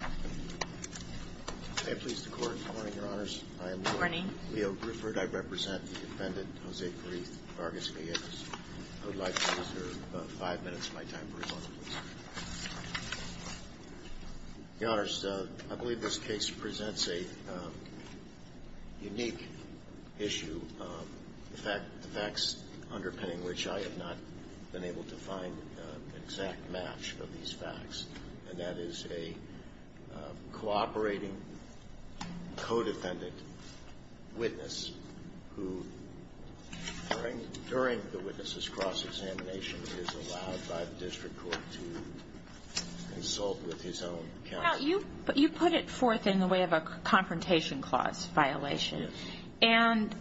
I believe this case presents a unique issue, the facts underpinning which I have not been cooperating co-defendant witness who, during the witness's cross-examination, is allowed by the district court to consult with his own counsel. You put it forth in the way of a confrontation clause violation, and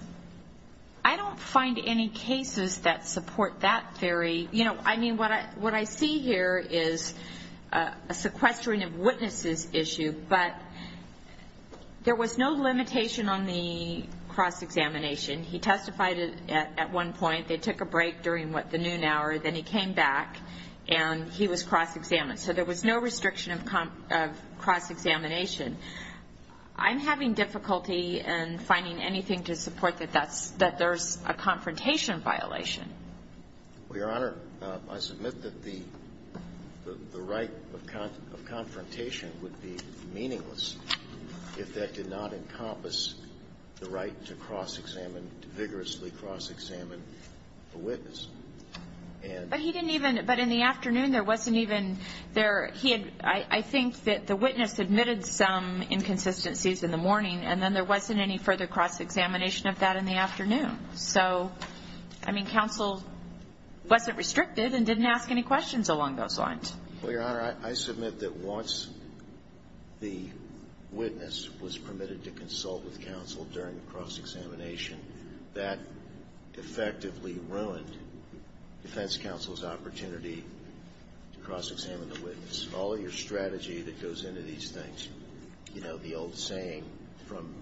I don't find any cases that support that theory. What I see here is a sequestering of witnesses issue, but there was no limitation on the cross-examination. He testified at one point, they took a break during the noon hour, then he came back, and he was cross-examined. So there was no restriction of cross-examination. I'm having difficulty in finding anything to support that there's a confrontation violation. Well, Your Honor, I submit that the right of confrontation would be meaningless if that did not encompass the right to cross-examine, to vigorously cross-examine a witness. But he didn't even – but in the afternoon, there wasn't even – he had – I think that the witness admitted some inconsistencies in the morning, and then there wasn't any further cross-examination of that in the afternoon. So, I mean, counsel wasn't restricted and didn't ask any questions along those lines. Well, Your Honor, I submit that once the witness was permitted to consult with counsel during the cross-examination, that effectively ruined defense counsel's opportunity to cross-examine the witness. All your strategy that goes into these things, you know, the old saying from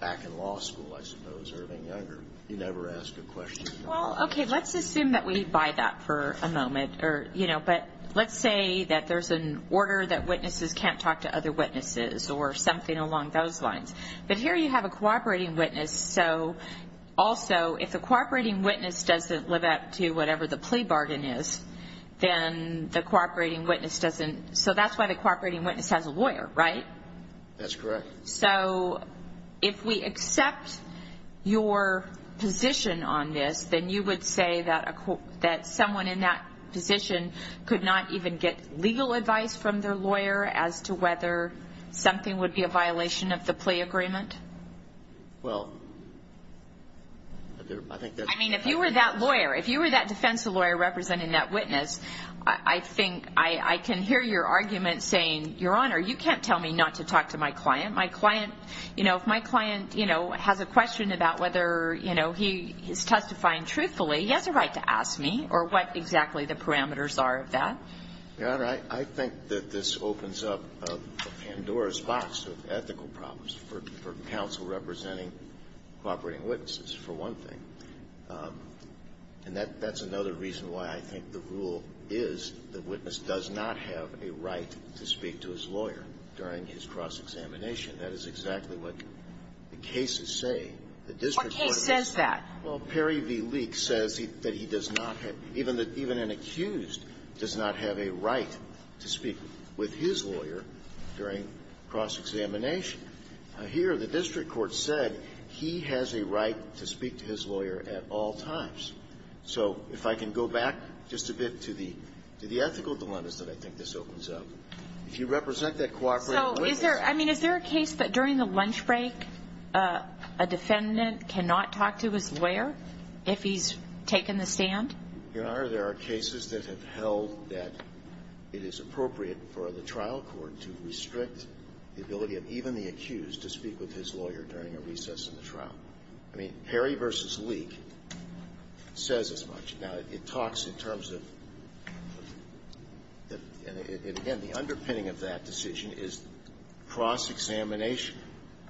back in law school, I suppose, Irving Younger, you never ask a question. Well, okay, let's assume that we buy that for a moment, or, you know, but let's say that there's an order that witnesses can't talk to other witnesses or something along those lines. But here you have a cooperating witness, so also if the cooperating witness doesn't live up to whatever the plea bargain is, then the cooperating witness doesn't – so that's why the cooperating witness has a lawyer, right? That's correct. So, if we accept your position on this, then you would say that someone in that position could not even get legal advice from their lawyer as to whether something would be a violation of the plea agreement? Well, I think that's – I mean, if you were that lawyer, if you were that defense lawyer representing that witness, I think I can hear your argument saying, Your Honor, you can't tell me not to talk to my client. My client – you know, if my client, you know, has a question about whether, you know, he is testifying truthfully, he has a right to ask me, or what exactly the parameters are of that. Your Honor, I think that this opens up a Pandora's box of ethical problems for counsel representing cooperating witnesses, for one thing, and that's another reason why I think the rule is the witness does not have a right to speak to his lawyer during his cross-examination. That is exactly what the cases say. The district court says that. Well, Perry v. Leek says that he does not have – even an accused does not have a right to speak with his lawyer during cross-examination. Here, the district court said he has a right to speak to his lawyer at all times. So if I can go back just a bit to the – to the ethical dilemmas that I think this opens up. If you represent that cooperating witness – So, is there – I mean, is there a case that during the lunch break a defendant cannot talk to his lawyer if he's taken the stand? Your Honor, there are cases that have held that it is appropriate for the trial court to restrict the ability of even the accused to speak with his lawyer during a recess in the trial. I mean, Perry v. Leek says as much. Now, it talks in terms of – and again, the underpinning of that decision is cross-examination.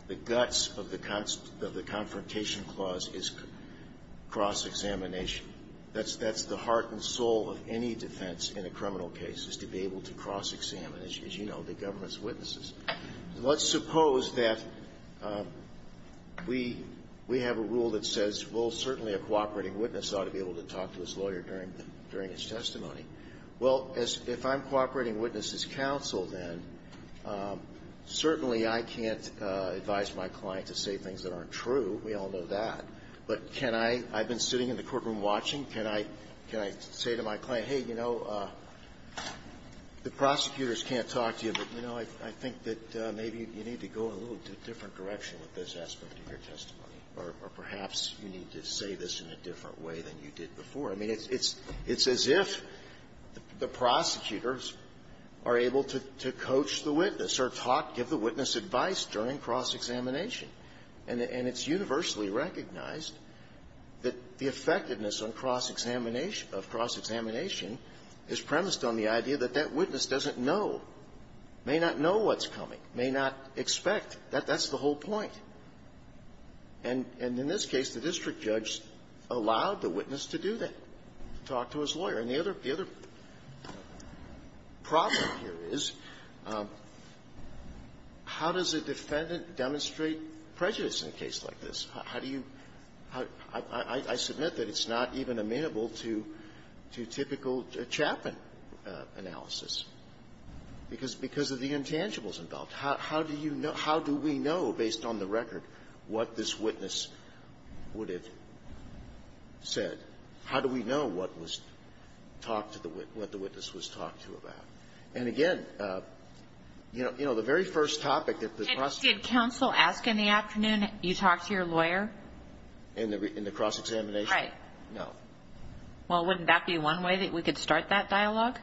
The guts of the confrontation clause is cross-examination. That's the heart and soul of any defense in a criminal case, is to be able to cross-examine, as you know, the government's witnesses. Let's suppose that we – we have a rule that says, well, certainly a cooperating witness ought to be able to talk to his lawyer during – during his testimony. Well, as – if I'm cooperating witness as counsel then, certainly I can't advise my client to say things that aren't true. We all know that. But can I – I've been sitting in the courtroom watching. Can I – can I say to my client, hey, you know, the prosecutors can't talk to you, but, you know, I – I think that maybe you need to go in a little different direction with this aspect of your testimony, or perhaps you need to say this in a different way than you did before. I mean, it's – it's as if the prosecutors are able to coach the witness or talk – give the witness advice during cross-examination. And it's universally recognized that the effectiveness on cross-examination is premised on the idea that that witness doesn't know, may not know what's coming, may not expect. That – that's the whole point. And – and in this case, the district judge allowed the witness to do that, to talk to his lawyer. And the other – the other problem here is, how does a defendant demonstrate prejudice in a case like this? How do you – I – I submit that it's not even amenable to – to typical Chapman analysis, because – because of the intangibles involved. How – how do you know – how do we know, based on the record, what this witness would have said? How do we know what was talked to the – what the witness was talked to about? And again, you know – you know, the very first topic that the prosecutor did counsel ask in the afternoon, you talk to your lawyer? In the – in the cross-examination? Right. No. Well, wouldn't that be one way that we could start that dialogue?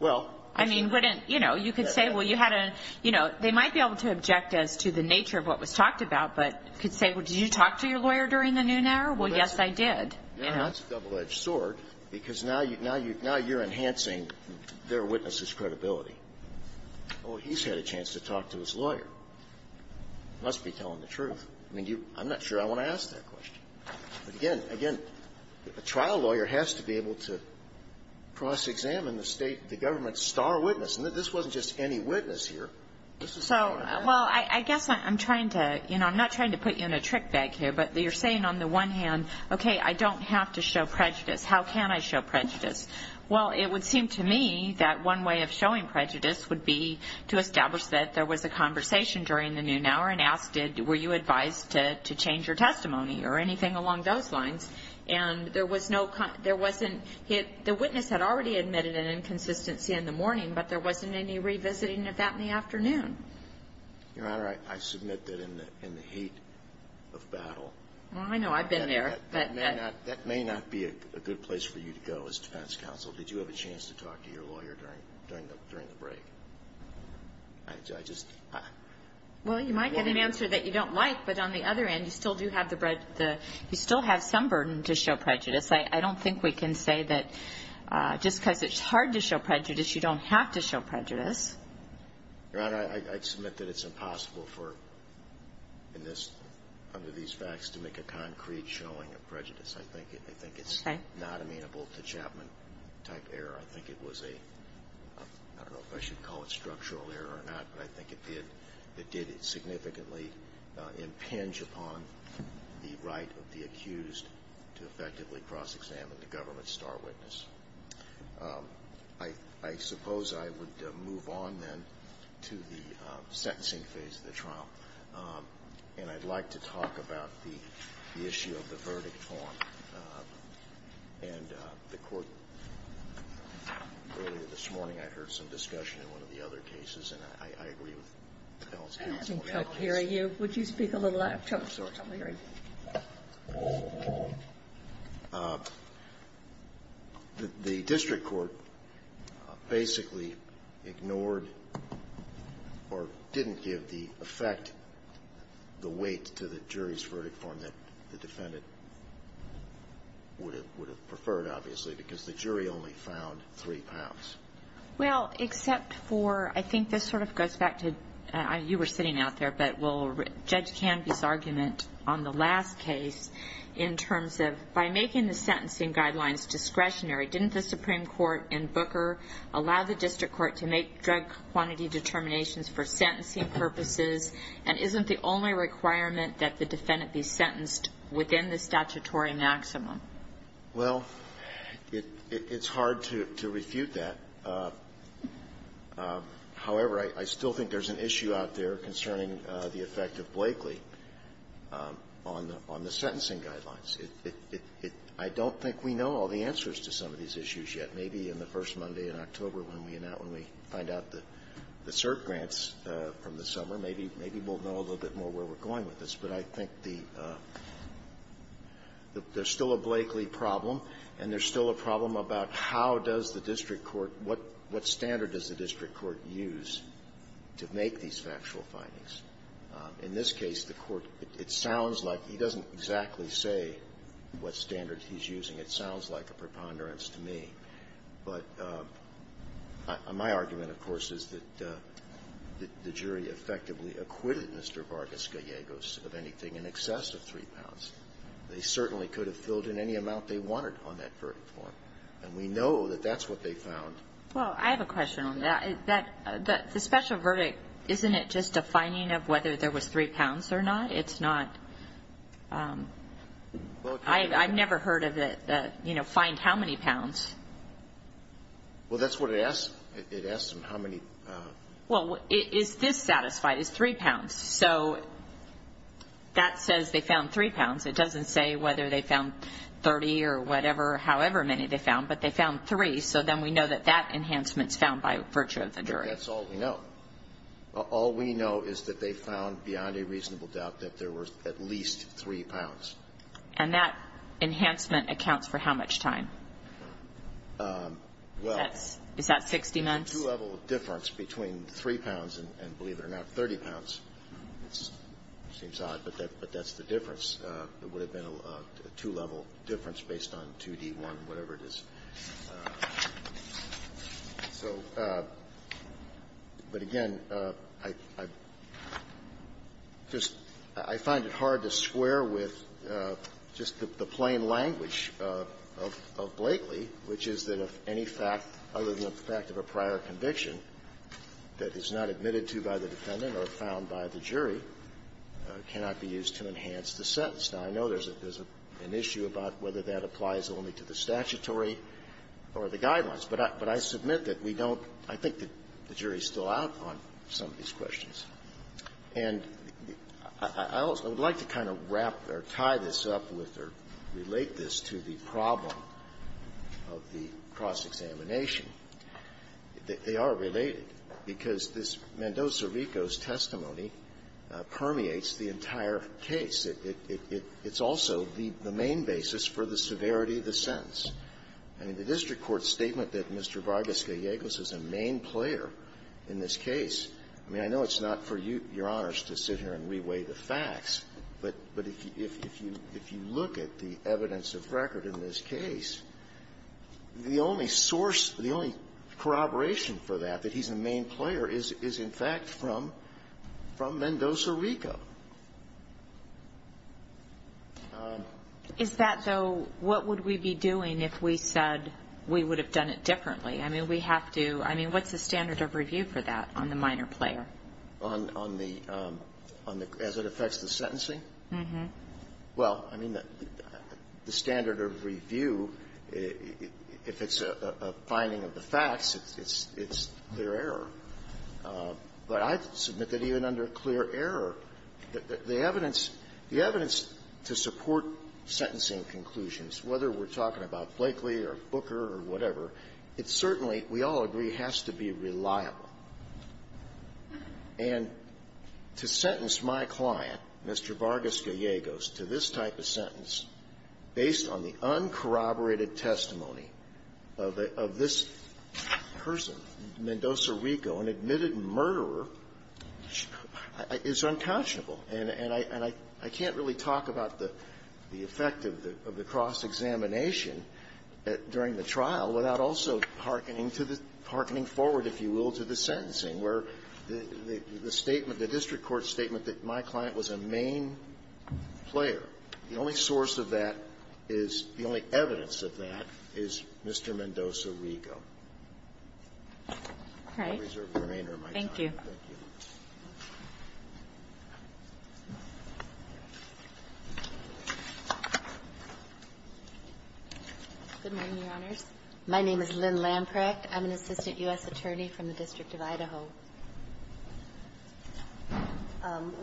Well, I mean, wouldn't – you know, you could say, well, you had a – you know, they might be able to object as to the nature of what was talked about, but could say, well, did you talk to your lawyer during the noon hour? Well, yes, I did. You know? Well, that's a double-edged sword, because now you – now you – now you're enhancing their witness's credibility. Well, he's had a chance to talk to his lawyer. He must be telling the truth. I mean, you – I'm not sure I want to ask that question. But again – again, a trial lawyer has to be able to cross-examine the state – the government's star witness. And this wasn't just any witness here. This was a trial lawyer. So – well, I guess I'm trying to – you know, I'm not trying to put you in a trick bag here, but you're saying on the one hand, okay, I don't have to show prejudice. How can I show prejudice? Well, it would seem to me that one way of showing prejudice would be to establish that there was a conversation during the noon hour and ask, did – were you advised to change your testimony or anything along those lines? And there was no – there wasn't – the witness had already admitted an inconsistency in the morning, but there wasn't any revisiting of that in the afternoon. Your Honor, I submit that in the – in the heat of battle – Well, I know. I've been there. That may not – that may not be a good place for you to go as defense counsel. Did you have a chance to talk to your lawyer during the break? I just – Well, you might get an answer that you don't like, but on the other end, you still do have the – you still have some burden to show prejudice. I don't think we can say that just because it's hard to show prejudice, you don't have to show prejudice. Your Honor, I submit that it's impossible for – in this – under these facts, to make a concrete showing of prejudice. I think it's not amenable to Chapman-type error. I think it was a – I don't know if I should call it structural error or not, but I think it did – it did significantly impinge upon the right of the accused to effectively cross-examine the government's star witness. I suppose I would move on then to the sentencing phase of the trial, and I'd like to talk about the issue of the verdict form. And the Court, earlier this morning, I heard some discussion in one of the other cases, and I agree with the counsel in that case. I haven't come to hear you. Would you speak a little louder? I'm sorry. I'm hearing you. Well, except for – I think this sort of goes back to – you were sitting out there, but will Judge Canby's argument on the last case in terms of, by making the sentencing guidelines discretionary, didn't the Supreme Court in Booker allow the district court to make drug quantity determinations for sentencing purposes, and isn't the only requirement that the defendant be sentenced within the statutory maximum? Well, it's hard to refute that. However, I still think there's an issue out there concerning the effect of Blakely on the sentencing guidelines. I don't think we know all the answers to some of these issues yet. Maybe in the first Monday in October when we find out the cert grants from the district court in the summer, maybe we'll know a little bit more where we're going with this, but I think the – there's still a Blakely problem, and there's still a problem about how does the district court – what standard does the district court use to make these factual findings. In this case, the court – it sounds like – he doesn't exactly say what standard he's using. It sounds like a preponderance to me. But my argument, of course, is that the jury effectively acquitted Mr. Vargas-Gallegos of anything in excess of three pounds. They certainly could have filled in any amount they wanted on that verdict form, and we know that that's what they found. Well, I have a question on that. That – the special verdict, isn't it just a finding of whether there was three pounds or not? It's not – I've never heard of the, you know, find how many pounds. Well, that's what it asks. It asks them how many. Well, is this satisfied as three pounds? So that says they found three pounds. It doesn't say whether they found 30 or whatever, however many they found, but they found three. So then we know that that enhancement's found by virtue of the jury. That's all we know. All we know is that they found, beyond a reasonable doubt, that there were at least three pounds. And that enhancement accounts for how much time? Well… Is that 60 months? There's a two-level difference between three pounds and, believe it or not, 30 pounds. It seems odd, but that's the difference. It would have been a two-level difference based on 2D1, whatever it is. So, but again, I just – I find it hard to square with just the plain language of Blakely, which is that if any fact, other than the fact of a prior conviction that is not admitted to by the defendant or found by the jury, cannot be used to enhance the sentence. Now, I know there's an issue about whether that applies only to the statutory or the guidelines, but I submit that we don't – I think that the jury's still out on some of these questions. And I would like to kind of wrap or tie this up with or relate this to the problem of the cross-examination. They are related because this Mendoza-Ricos testimony permeates the entire case. It's also the main basis for the severity of the sentence. I mean, the district court's statement that Mr. Vargas-Gallegos is a main player in this case, I mean, I know it's not for you, Your Honors, to sit here and re-weigh the facts, but if you look at the evidence of record in this case, the only source – the only corroboration for that, that he's a main player, is in fact from Mendoza-Rico. Is that, though, what would we be doing if we said we would have done it differently? I mean, we have to – I mean, what's the standard of review for that on the minor Verrilli, on the – as it affects the sentencing? Mm-hmm. Well, I mean, the standard of review, if it's a finding of the facts, it's clear error. But I submit that even under clear error, the evidence – the evidence to support sentencing conclusions, whether we're talking about Blakely or Booker or whatever, it certainly, we all agree, has to be reliable. And to sentence my client, Mr. Vargas-Gallegos, to this type of sentence based on the uncorroborated testimony of this person, Mendoza-Rico, an admitted murderer, is unconscionable. And I can't really talk about the effect of the cross-examination during the trial without also hearkening to the – hearkening forward, if you will, to the sentencing, where the statement, the district court statement that my client was a main player, the only source of that is – the only evidence of that is Mr. Mendoza-Rico. All right. I reserve the remainder of my time. Thank you. Good morning, Your Honors. My name is Lynn Lamprecht. I'm an assistant U.S. attorney from the District of Idaho.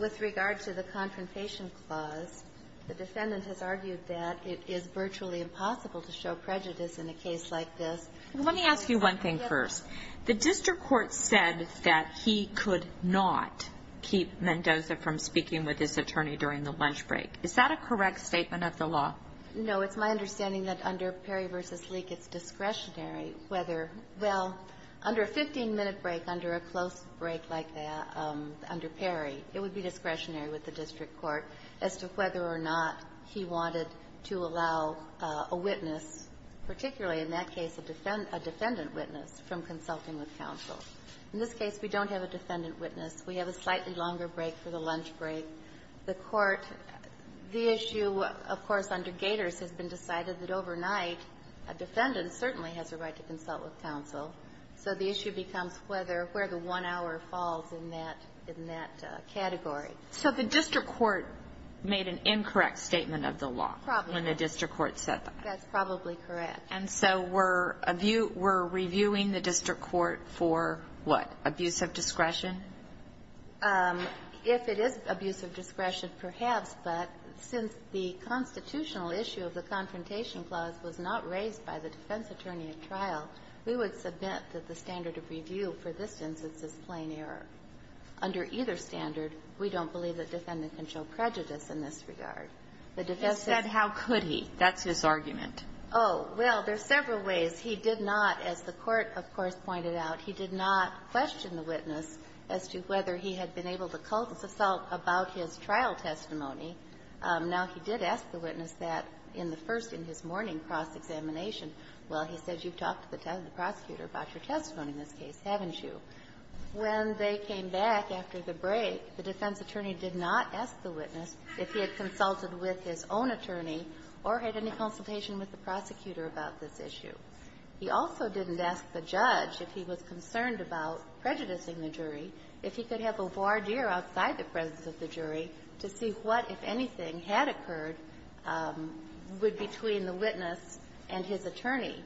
With regard to the confrontation clause, the defendant has argued that it is virtually impossible to show prejudice in a case like this. Let me ask you one thing first. The district court said that he could not keep Mendoza from speaking with his attorney during the lunch break. Is that a correct statement of the law? No. It's my understanding that under Perry v. Leak, it's discretionary whether – well, under a 15-minute break, under a close break like that, under Perry, it would be discretionary with the district court as to whether or not he wanted to allow a witness, particularly in that case a defendant witness, from consulting with counsel. In this case, we don't have a defendant witness. We have a slightly longer break for the lunch break. The court – the issue, of course, under Gators has been decided that overnight a defendant certainly has a right to consult with counsel. So the issue becomes whether – where the one hour falls in that category. So the district court made an incorrect statement of the law when the district court said that? That's probably correct. And so we're reviewing the district court for what? Abuse of discretion? If it is abuse of discretion, perhaps. But since the constitutional issue of the Confrontation Clause was not raised by the defense attorney at trial, we would submit that the standard of review for this instance is plain error. Under either standard, we don't believe a defendant can show prejudice in this regard. The defense – You said, how could he? That's his argument. Oh, well, there's several ways. He did not, as the court, of course, pointed out, he did not question the witness as to whether he had been able to consult about his trial testimony. Now, he did ask the witness that in the first, in his morning cross-examination. Well, he said, you've talked to the prosecutor about your testimony in this case, haven't you? When they came back after the break, the defense attorney did not ask the witness if he had consulted with his own attorney or had any consultation with the prosecutor about this issue. He also didn't ask the judge if he was concerned about prejudicing the jury, if he could have a voir dire outside the presence of the jury to see what, if anything, had occurred between the witness and his attorney.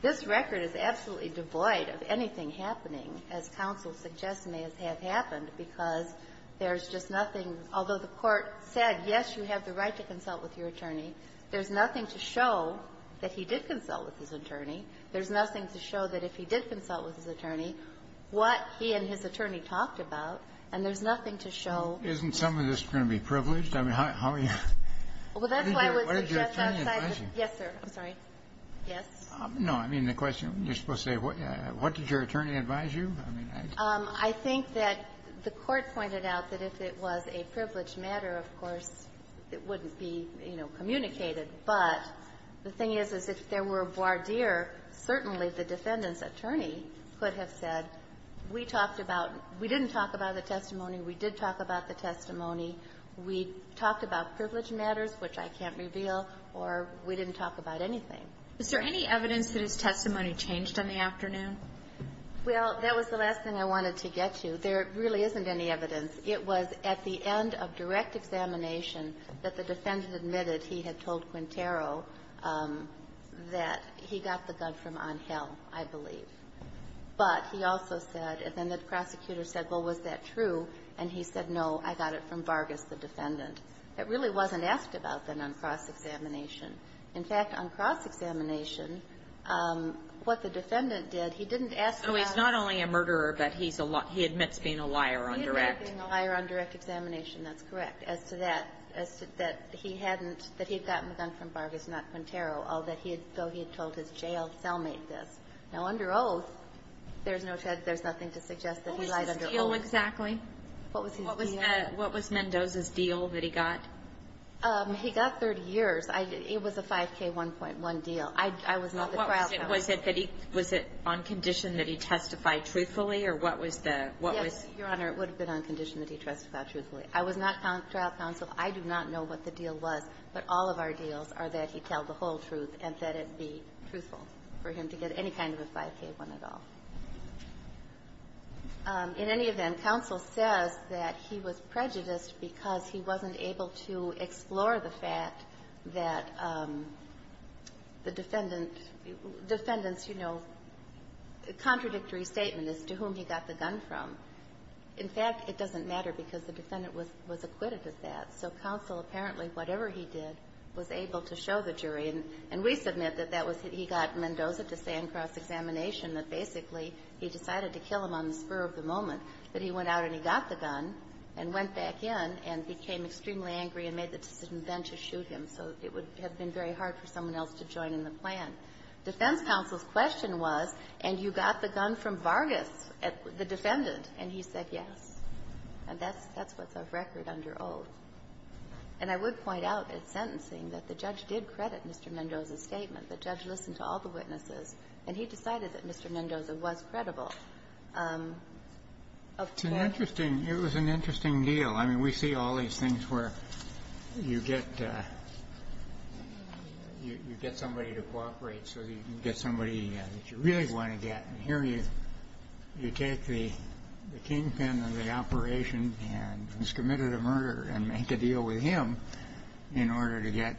This record is absolutely devoid of anything happening, as counsel suggests may have happened, because there's just nothing – although the court said, yes, you have the right to consult with your attorney, there's nothing to show that he did consult with his attorney. There's nothing to show that if he did consult with his attorney, what he and his attorney talked about, and there's nothing to show. Isn't some of this going to be privileged? I mean, how are you – Well, that's why I would suggest outside the – What did your attorney advise you? Yes, sir. I'm sorry. Yes. No, I mean, the question, you're supposed to say, what did your attorney advise you? I mean, I – I think that the Court pointed out that if it was a privileged matter, of course, it wouldn't be, you know, communicated. But the thing is, is if there were a voir dire, certainly the defendant's attorney could have said, we talked about – we didn't talk about the testimony, we did talk about the testimony, we talked about privileged matters, which I can't reveal, or we didn't talk about anything. Is there any evidence that his testimony changed on the afternoon? Well, that was the last thing I wanted to get to. There really isn't any evidence. It was at the end of direct examination that the defendant admitted he had told Quintero that he got the gun from Angel, I believe. But he also said – and then the prosecutor said, well, was that true? And he said, no, I got it from Vargas, the defendant. It really wasn't asked about then on cross-examination. In fact, on cross-examination, what the defendant did, he didn't ask about – So he's not only a murderer, but he admits being a liar on direct. He admits being a liar on direct examination. That's correct. As to that, that he hadn't – that he had gotten the gun from Vargas, not Quintero, although he had told his jail cellmate this. Now, under oath, there's no – there's nothing to suggest that he lied under oath. What was his deal exactly? What was his deal? What was Mendoza's deal that he got? He got 30 years. It was a 5K, 1.1 deal. I was not the trial counsel. Was it that he – was it on condition that he testified truthfully, or what was the – what was the – Yes, Your Honor, it would have been on condition that he testified truthfully. I was not trial counsel. I do not know what the deal was, but all of our deals are that he tell the whole truth and that it be truthful for him to get any kind of a 5K, 1 at all. In any event, counsel says that he was prejudiced because he wasn't able to explore the fact that the defendant – defendant's, you know, contradictory statement as to whom he got the gun from. In fact, it doesn't matter because the defendant was acquitted of that. So counsel, apparently, whatever he did, was able to show the jury. And we submit that that was – he got Mendoza to say in cross-examination that basically he decided to kill him on the spur of the moment. But he went out and he got the gun and went back in and became extremely angry and made the decision then to shoot him. So it would have been very hard for someone else to join in the plan. Defense counsel's question was, and you got the gun from Vargas, the defendant. And he said yes. And that's what's a record under oath. And I would point out at sentencing that the judge did credit Mr. Mendoza's statement. The judge listened to all the witnesses, and he decided that Mr. Mendoza was credible. Up to that point. It's an interesting – it was an interesting deal. I mean, we see all these things where you get – you get somebody to cooperate so you can get somebody that you really want to get. And here you take the kingpin of the operation and he's committed a murder and make a deal with him in order to get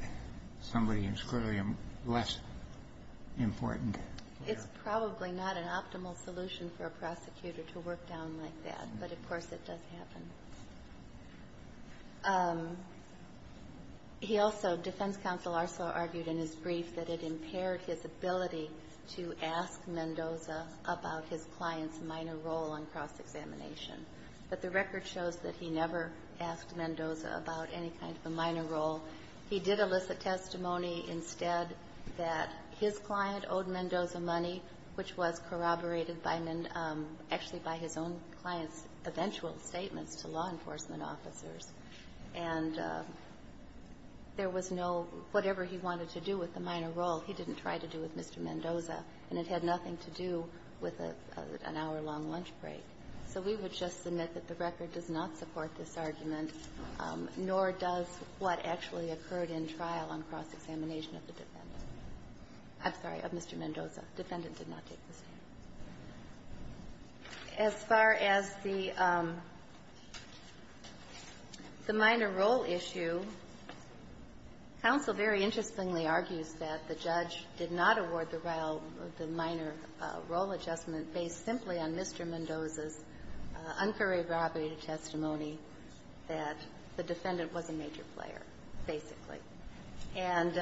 somebody who's clearly less important. It's probably not an optimal solution for a prosecutor to work down like that. But, of course, it does happen. He also – defense counsel also argued in his brief that it impaired his ability to ask Mendoza about his client's minor role on cross-examination. But the record shows that he never asked Mendoza about any kind of a minor role. He did elicit testimony instead that his client owed Mendoza money, which was corroborated by – actually by his own client's eventual statements to law enforcement officers. And there was no – whatever he wanted to do with the minor role, he didn't try to do with Mr. Mendoza, and it had nothing to do with an hour-long lunch break. So we would just submit that the record does not support this argument, nor does what actually occurred in trial on cross-examination of the defendant. I'm sorry, of Mr. Mendoza. Defendant did not take the stand. As far as the minor role issue, counsel very interestingly argues that the judge did not award the minor role adjustment based simply on Mr. Mendoza's uncorroborated testimony that the defendant was a major player, basically. And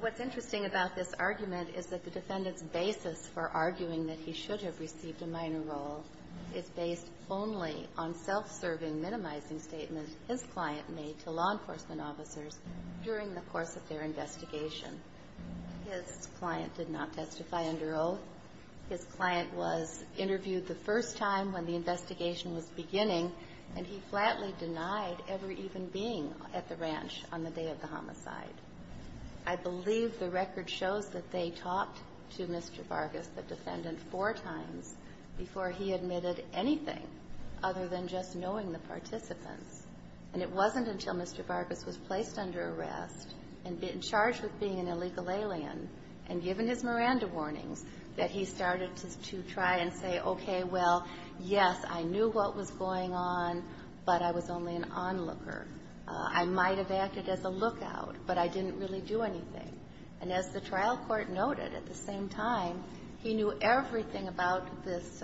what's interesting about this argument is that the defendant's basis for arguing that he should have received a minor role is based only on self-serving, minimizing statements his client made to law enforcement officers during the course of their investigation. His client did not testify under oath. His client was interviewed the first time when the investigation was beginning, and he flatly denied ever even being at the ranch on the day of the homicide. I believe the record shows that they talked to Mr. Vargas, the defendant, four times before he admitted anything other than just knowing the participants. And it wasn't until Mr. Vargas was placed under arrest and charged with being an illegal alien and given his Miranda warnings that he started to try and say, okay, well, yes, I knew what was going on, but I was only an onlooker. I might have acted as a lookout, but I didn't really do anything. And as the trial court noted, at the same time, he knew everything about this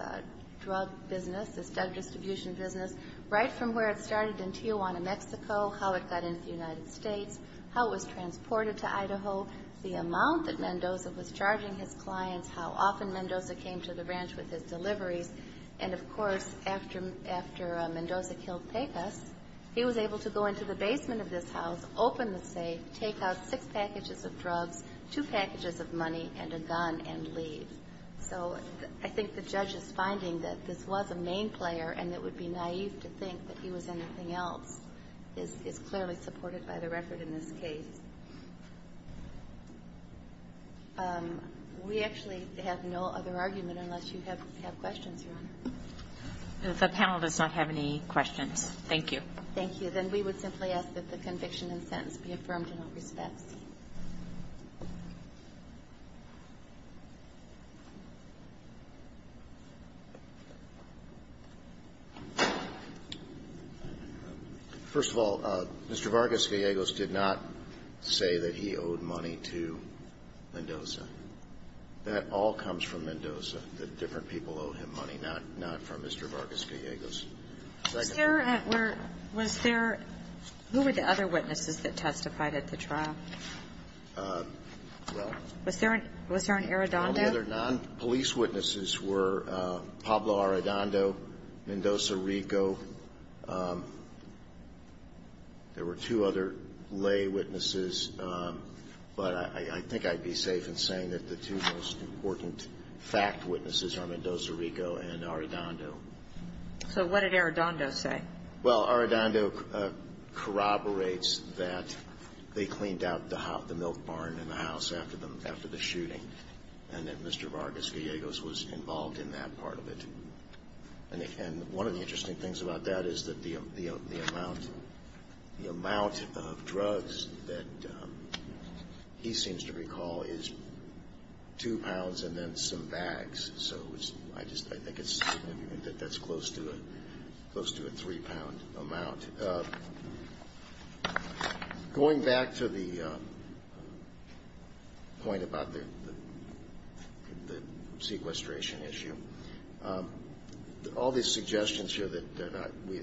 drug business, this drug distribution business, right from where it started in Tijuana, Mexico, how it got into the United States, how it was transported to Idaho, the amount that Mendoza was charging his clients, how often Mendoza came to the ranch with his deliveries. And, of course, after Mendoza killed Pegas, he was able to go into the basement of this house, open the safe, take out six packages of drugs, two packages of money, and a gun, and leave. So I think the judge's finding that this was a main player and that it would be naïve to think that he was anything else is clearly supported by the record in this case. We actually have no other argument unless you have questions, Your Honor. The panel does not have any questions. Thank you. Thank you. Then we would simply ask that the conviction and sentence be affirmed in all respects. First of all, Mr. Vargas-Villegas did not say that he owed money to Mendoza. That all comes from Mendoza. The different people owe him money, not from Mr. Vargas-Villegas. Second. Was there, who were the other witnesses that testified at the trial? Well. Was there an Arradondo? The other non-police witnesses were Pablo Arradondo, Mendoza Rico. There were two other lay witnesses, but I think I'd be safe in saying that the two most important fact witnesses are Mendoza Rico and Arradondo. So what did Arradondo say? Well, Arradondo corroborates that they cleaned out the milk barn in the house after the shooting, and that Mr. Vargas-Villegas was involved in that part of it. And one of the interesting things about that is that the amount of drugs that he seems to recall is two pounds and then some bags. So I think it's certain that that's close to a three pound amount. And going back to the point about the sequestration issue, all these suggestions here that the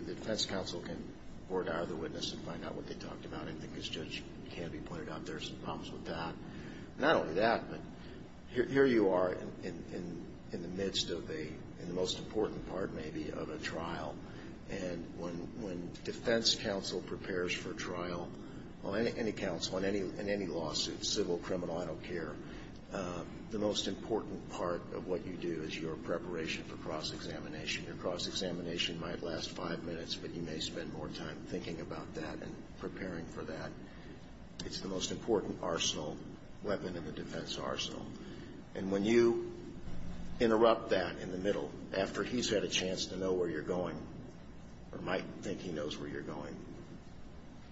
defense counsel can order the witness and find out what they talked about. I think as Judge Canby pointed out, there's some problems with that. Not only that, but here you are in the midst of the most important part, maybe, of a trial. And when defense counsel prepares for trial, or any counsel in any lawsuit, civil, criminal, I don't care, the most important part of what you do is your preparation for cross-examination. Your cross-examination might last five minutes, but you may spend more time thinking about that and preparing for that. It's the most important arsenal, weapon in the defense arsenal. And when you interrupt that in the middle, after he's had a chance to know where you're going, or might think he knows where you're going,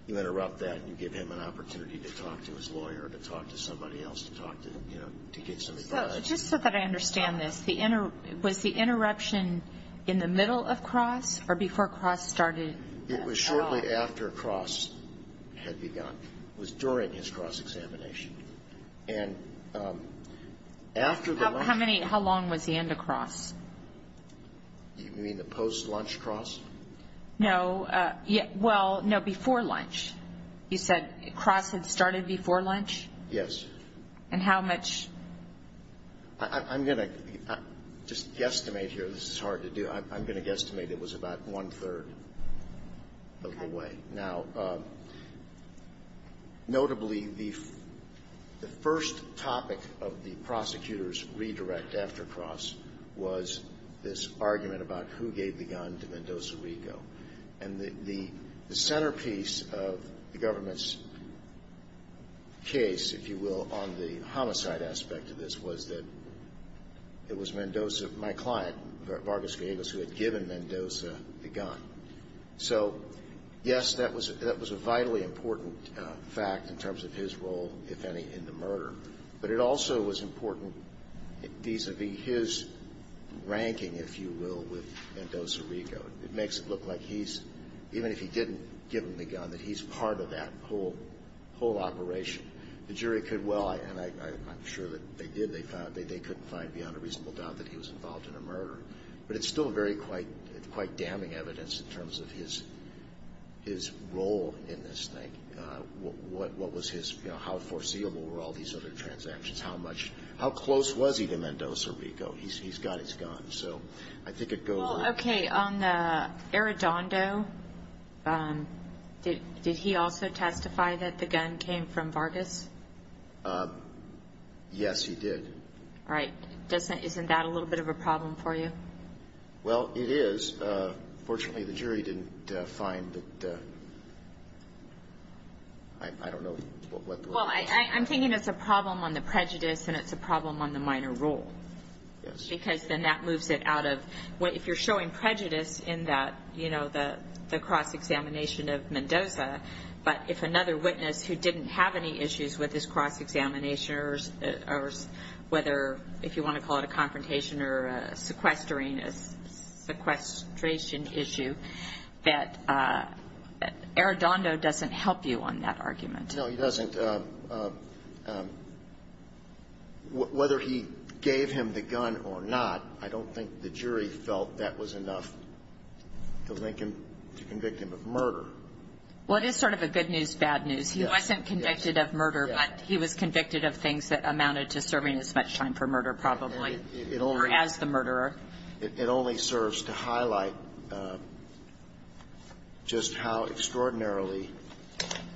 you interrupt that and you give him an opportunity to talk to his lawyer, to talk to somebody else, to talk to, you know, to get some advice. So just so that I understand this, was the interruption in the middle of cross, or before cross started? It was shortly after cross had begun. It was during his cross-examination. And after the lunch... How long was the end of cross? You mean the post-lunch cross? No, well, no, before lunch. You said cross had started before lunch? Yes. And how much? I'm going to just guesstimate here. This is hard to do. I'm going to guesstimate it was about one-third of the way. Now, notably, the first topic of the prosecutor's redirect after cross was this argument about who gave the gun to Mendoza Rico. And the centerpiece of the government's case, if you will, on the homicide aspect of this was that it was Mendoza, my client, Vargas Villegas, who had given Mendoza the gun. So, yes, that was a vitally important fact in terms of his role, if any, in the murder. But it also was important vis-a-vis his ranking, if you will, with Mendoza Rico. It makes it look like he's, even if he didn't give him the gun, that he's part of that whole operation. The jury could well, and I'm sure that they did, they couldn't find beyond a reasonable doubt that he was involved in a murder. But it's still very quite damning evidence in terms of his role in this thing. What was his, you know, how foreseeable were all these other transactions? How much, how close was he to Mendoza Rico? He's got his gun. So I think it goes. Well, okay, on the Arredondo, did he also testify that the gun came from Vargas? Yes, he did. Right. Isn't that a little bit of a problem for you? Well, it is. Fortunately, the jury didn't find that. I don't know. Well, I'm thinking it's a problem on the prejudice and it's a problem on the minor role. Yes. Because then that moves it out of, if you're showing prejudice in that, you know, the cross-examination of Mendoza, but if another witness who didn't have any issues with this cross-examination or whether, if you want to call it a confrontation or a sequestering, a sequestration issue, that Arredondo doesn't help you on that argument. No, he doesn't. Whether he gave him the gun or not, I don't think the jury felt that was enough to link him, to convict him of murder. Well, it is sort of a good news, bad news. He wasn't convicted of murder, but he was convicted of things that amounted to serving as much time for murder probably or as the murderer. It only serves to highlight just how extraordinarily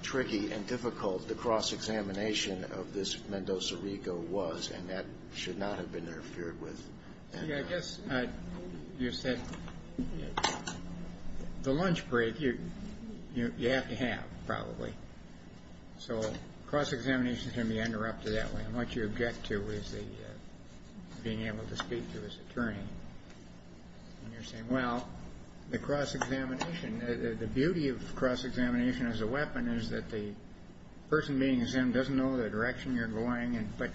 tricky and difficult the cross-examination of this Mendoza Rico was, and that should not have been interfered with. See, I guess you said the lunch break, you have to have probably. So cross-examination is going to be interrupted that way, and what you object to is being able to speak to his attorney. And you're saying, well, the cross-examination, the beauty of cross-examination as a weapon is that the person being examined doesn't know the direction you're going, but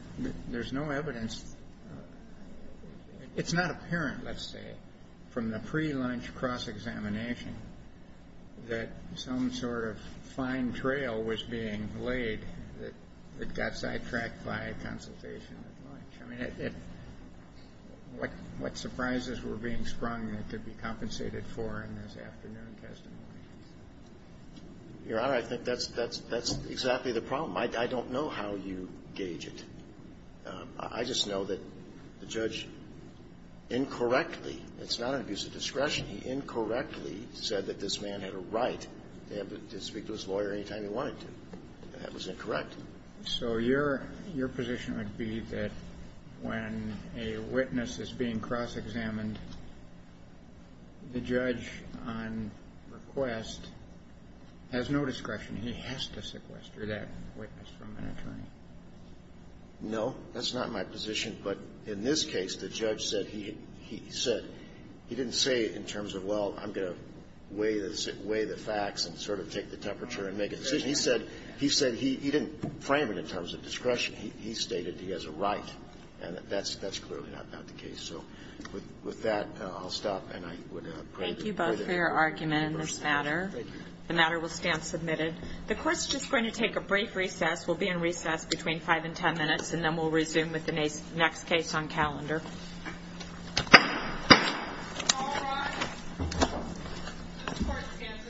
there's no evidence. It's not apparent, let's say, from the pre-lunch cross-examination that some sort of fine trail was being laid that got sidetracked by a consultation at lunch. I mean, what surprises were being sprung that could be compensated for in this afternoon testimony? Your Honor, I think that's exactly the problem. I don't know how you gauge it. I just know that the judge incorrectly, it's not an abuse of discretion, he incorrectly said that this man had a right to speak to his lawyer anytime he wanted to. That was incorrect. So your position would be that when a witness is being cross-examined, the judge on request has no discretion. He has to sequester that witness from an attorney. No, that's not my position. But in this case, the judge said he didn't say in terms of, well, I'm going to weigh the facts and sort of take the temperature and make a decision. He said he didn't frame it in terms of discretion. He stated he has a right, and that's clearly not the case. So with that, I'll stop, and I would pray that we put an end to this matter. Thank you both for your argument in this matter. Thank you. The matter will stand submitted. The Court's just going to take a brief recess. We'll be in recess between 5 and 10 minutes, and then we'll resume with the next case on calendar. All rise. This Court stands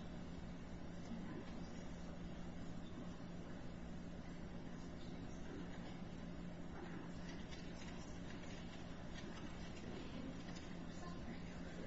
in recess. Thank you. Thank you. Thank you. Thank you. Thank you. Thank you. Thank you.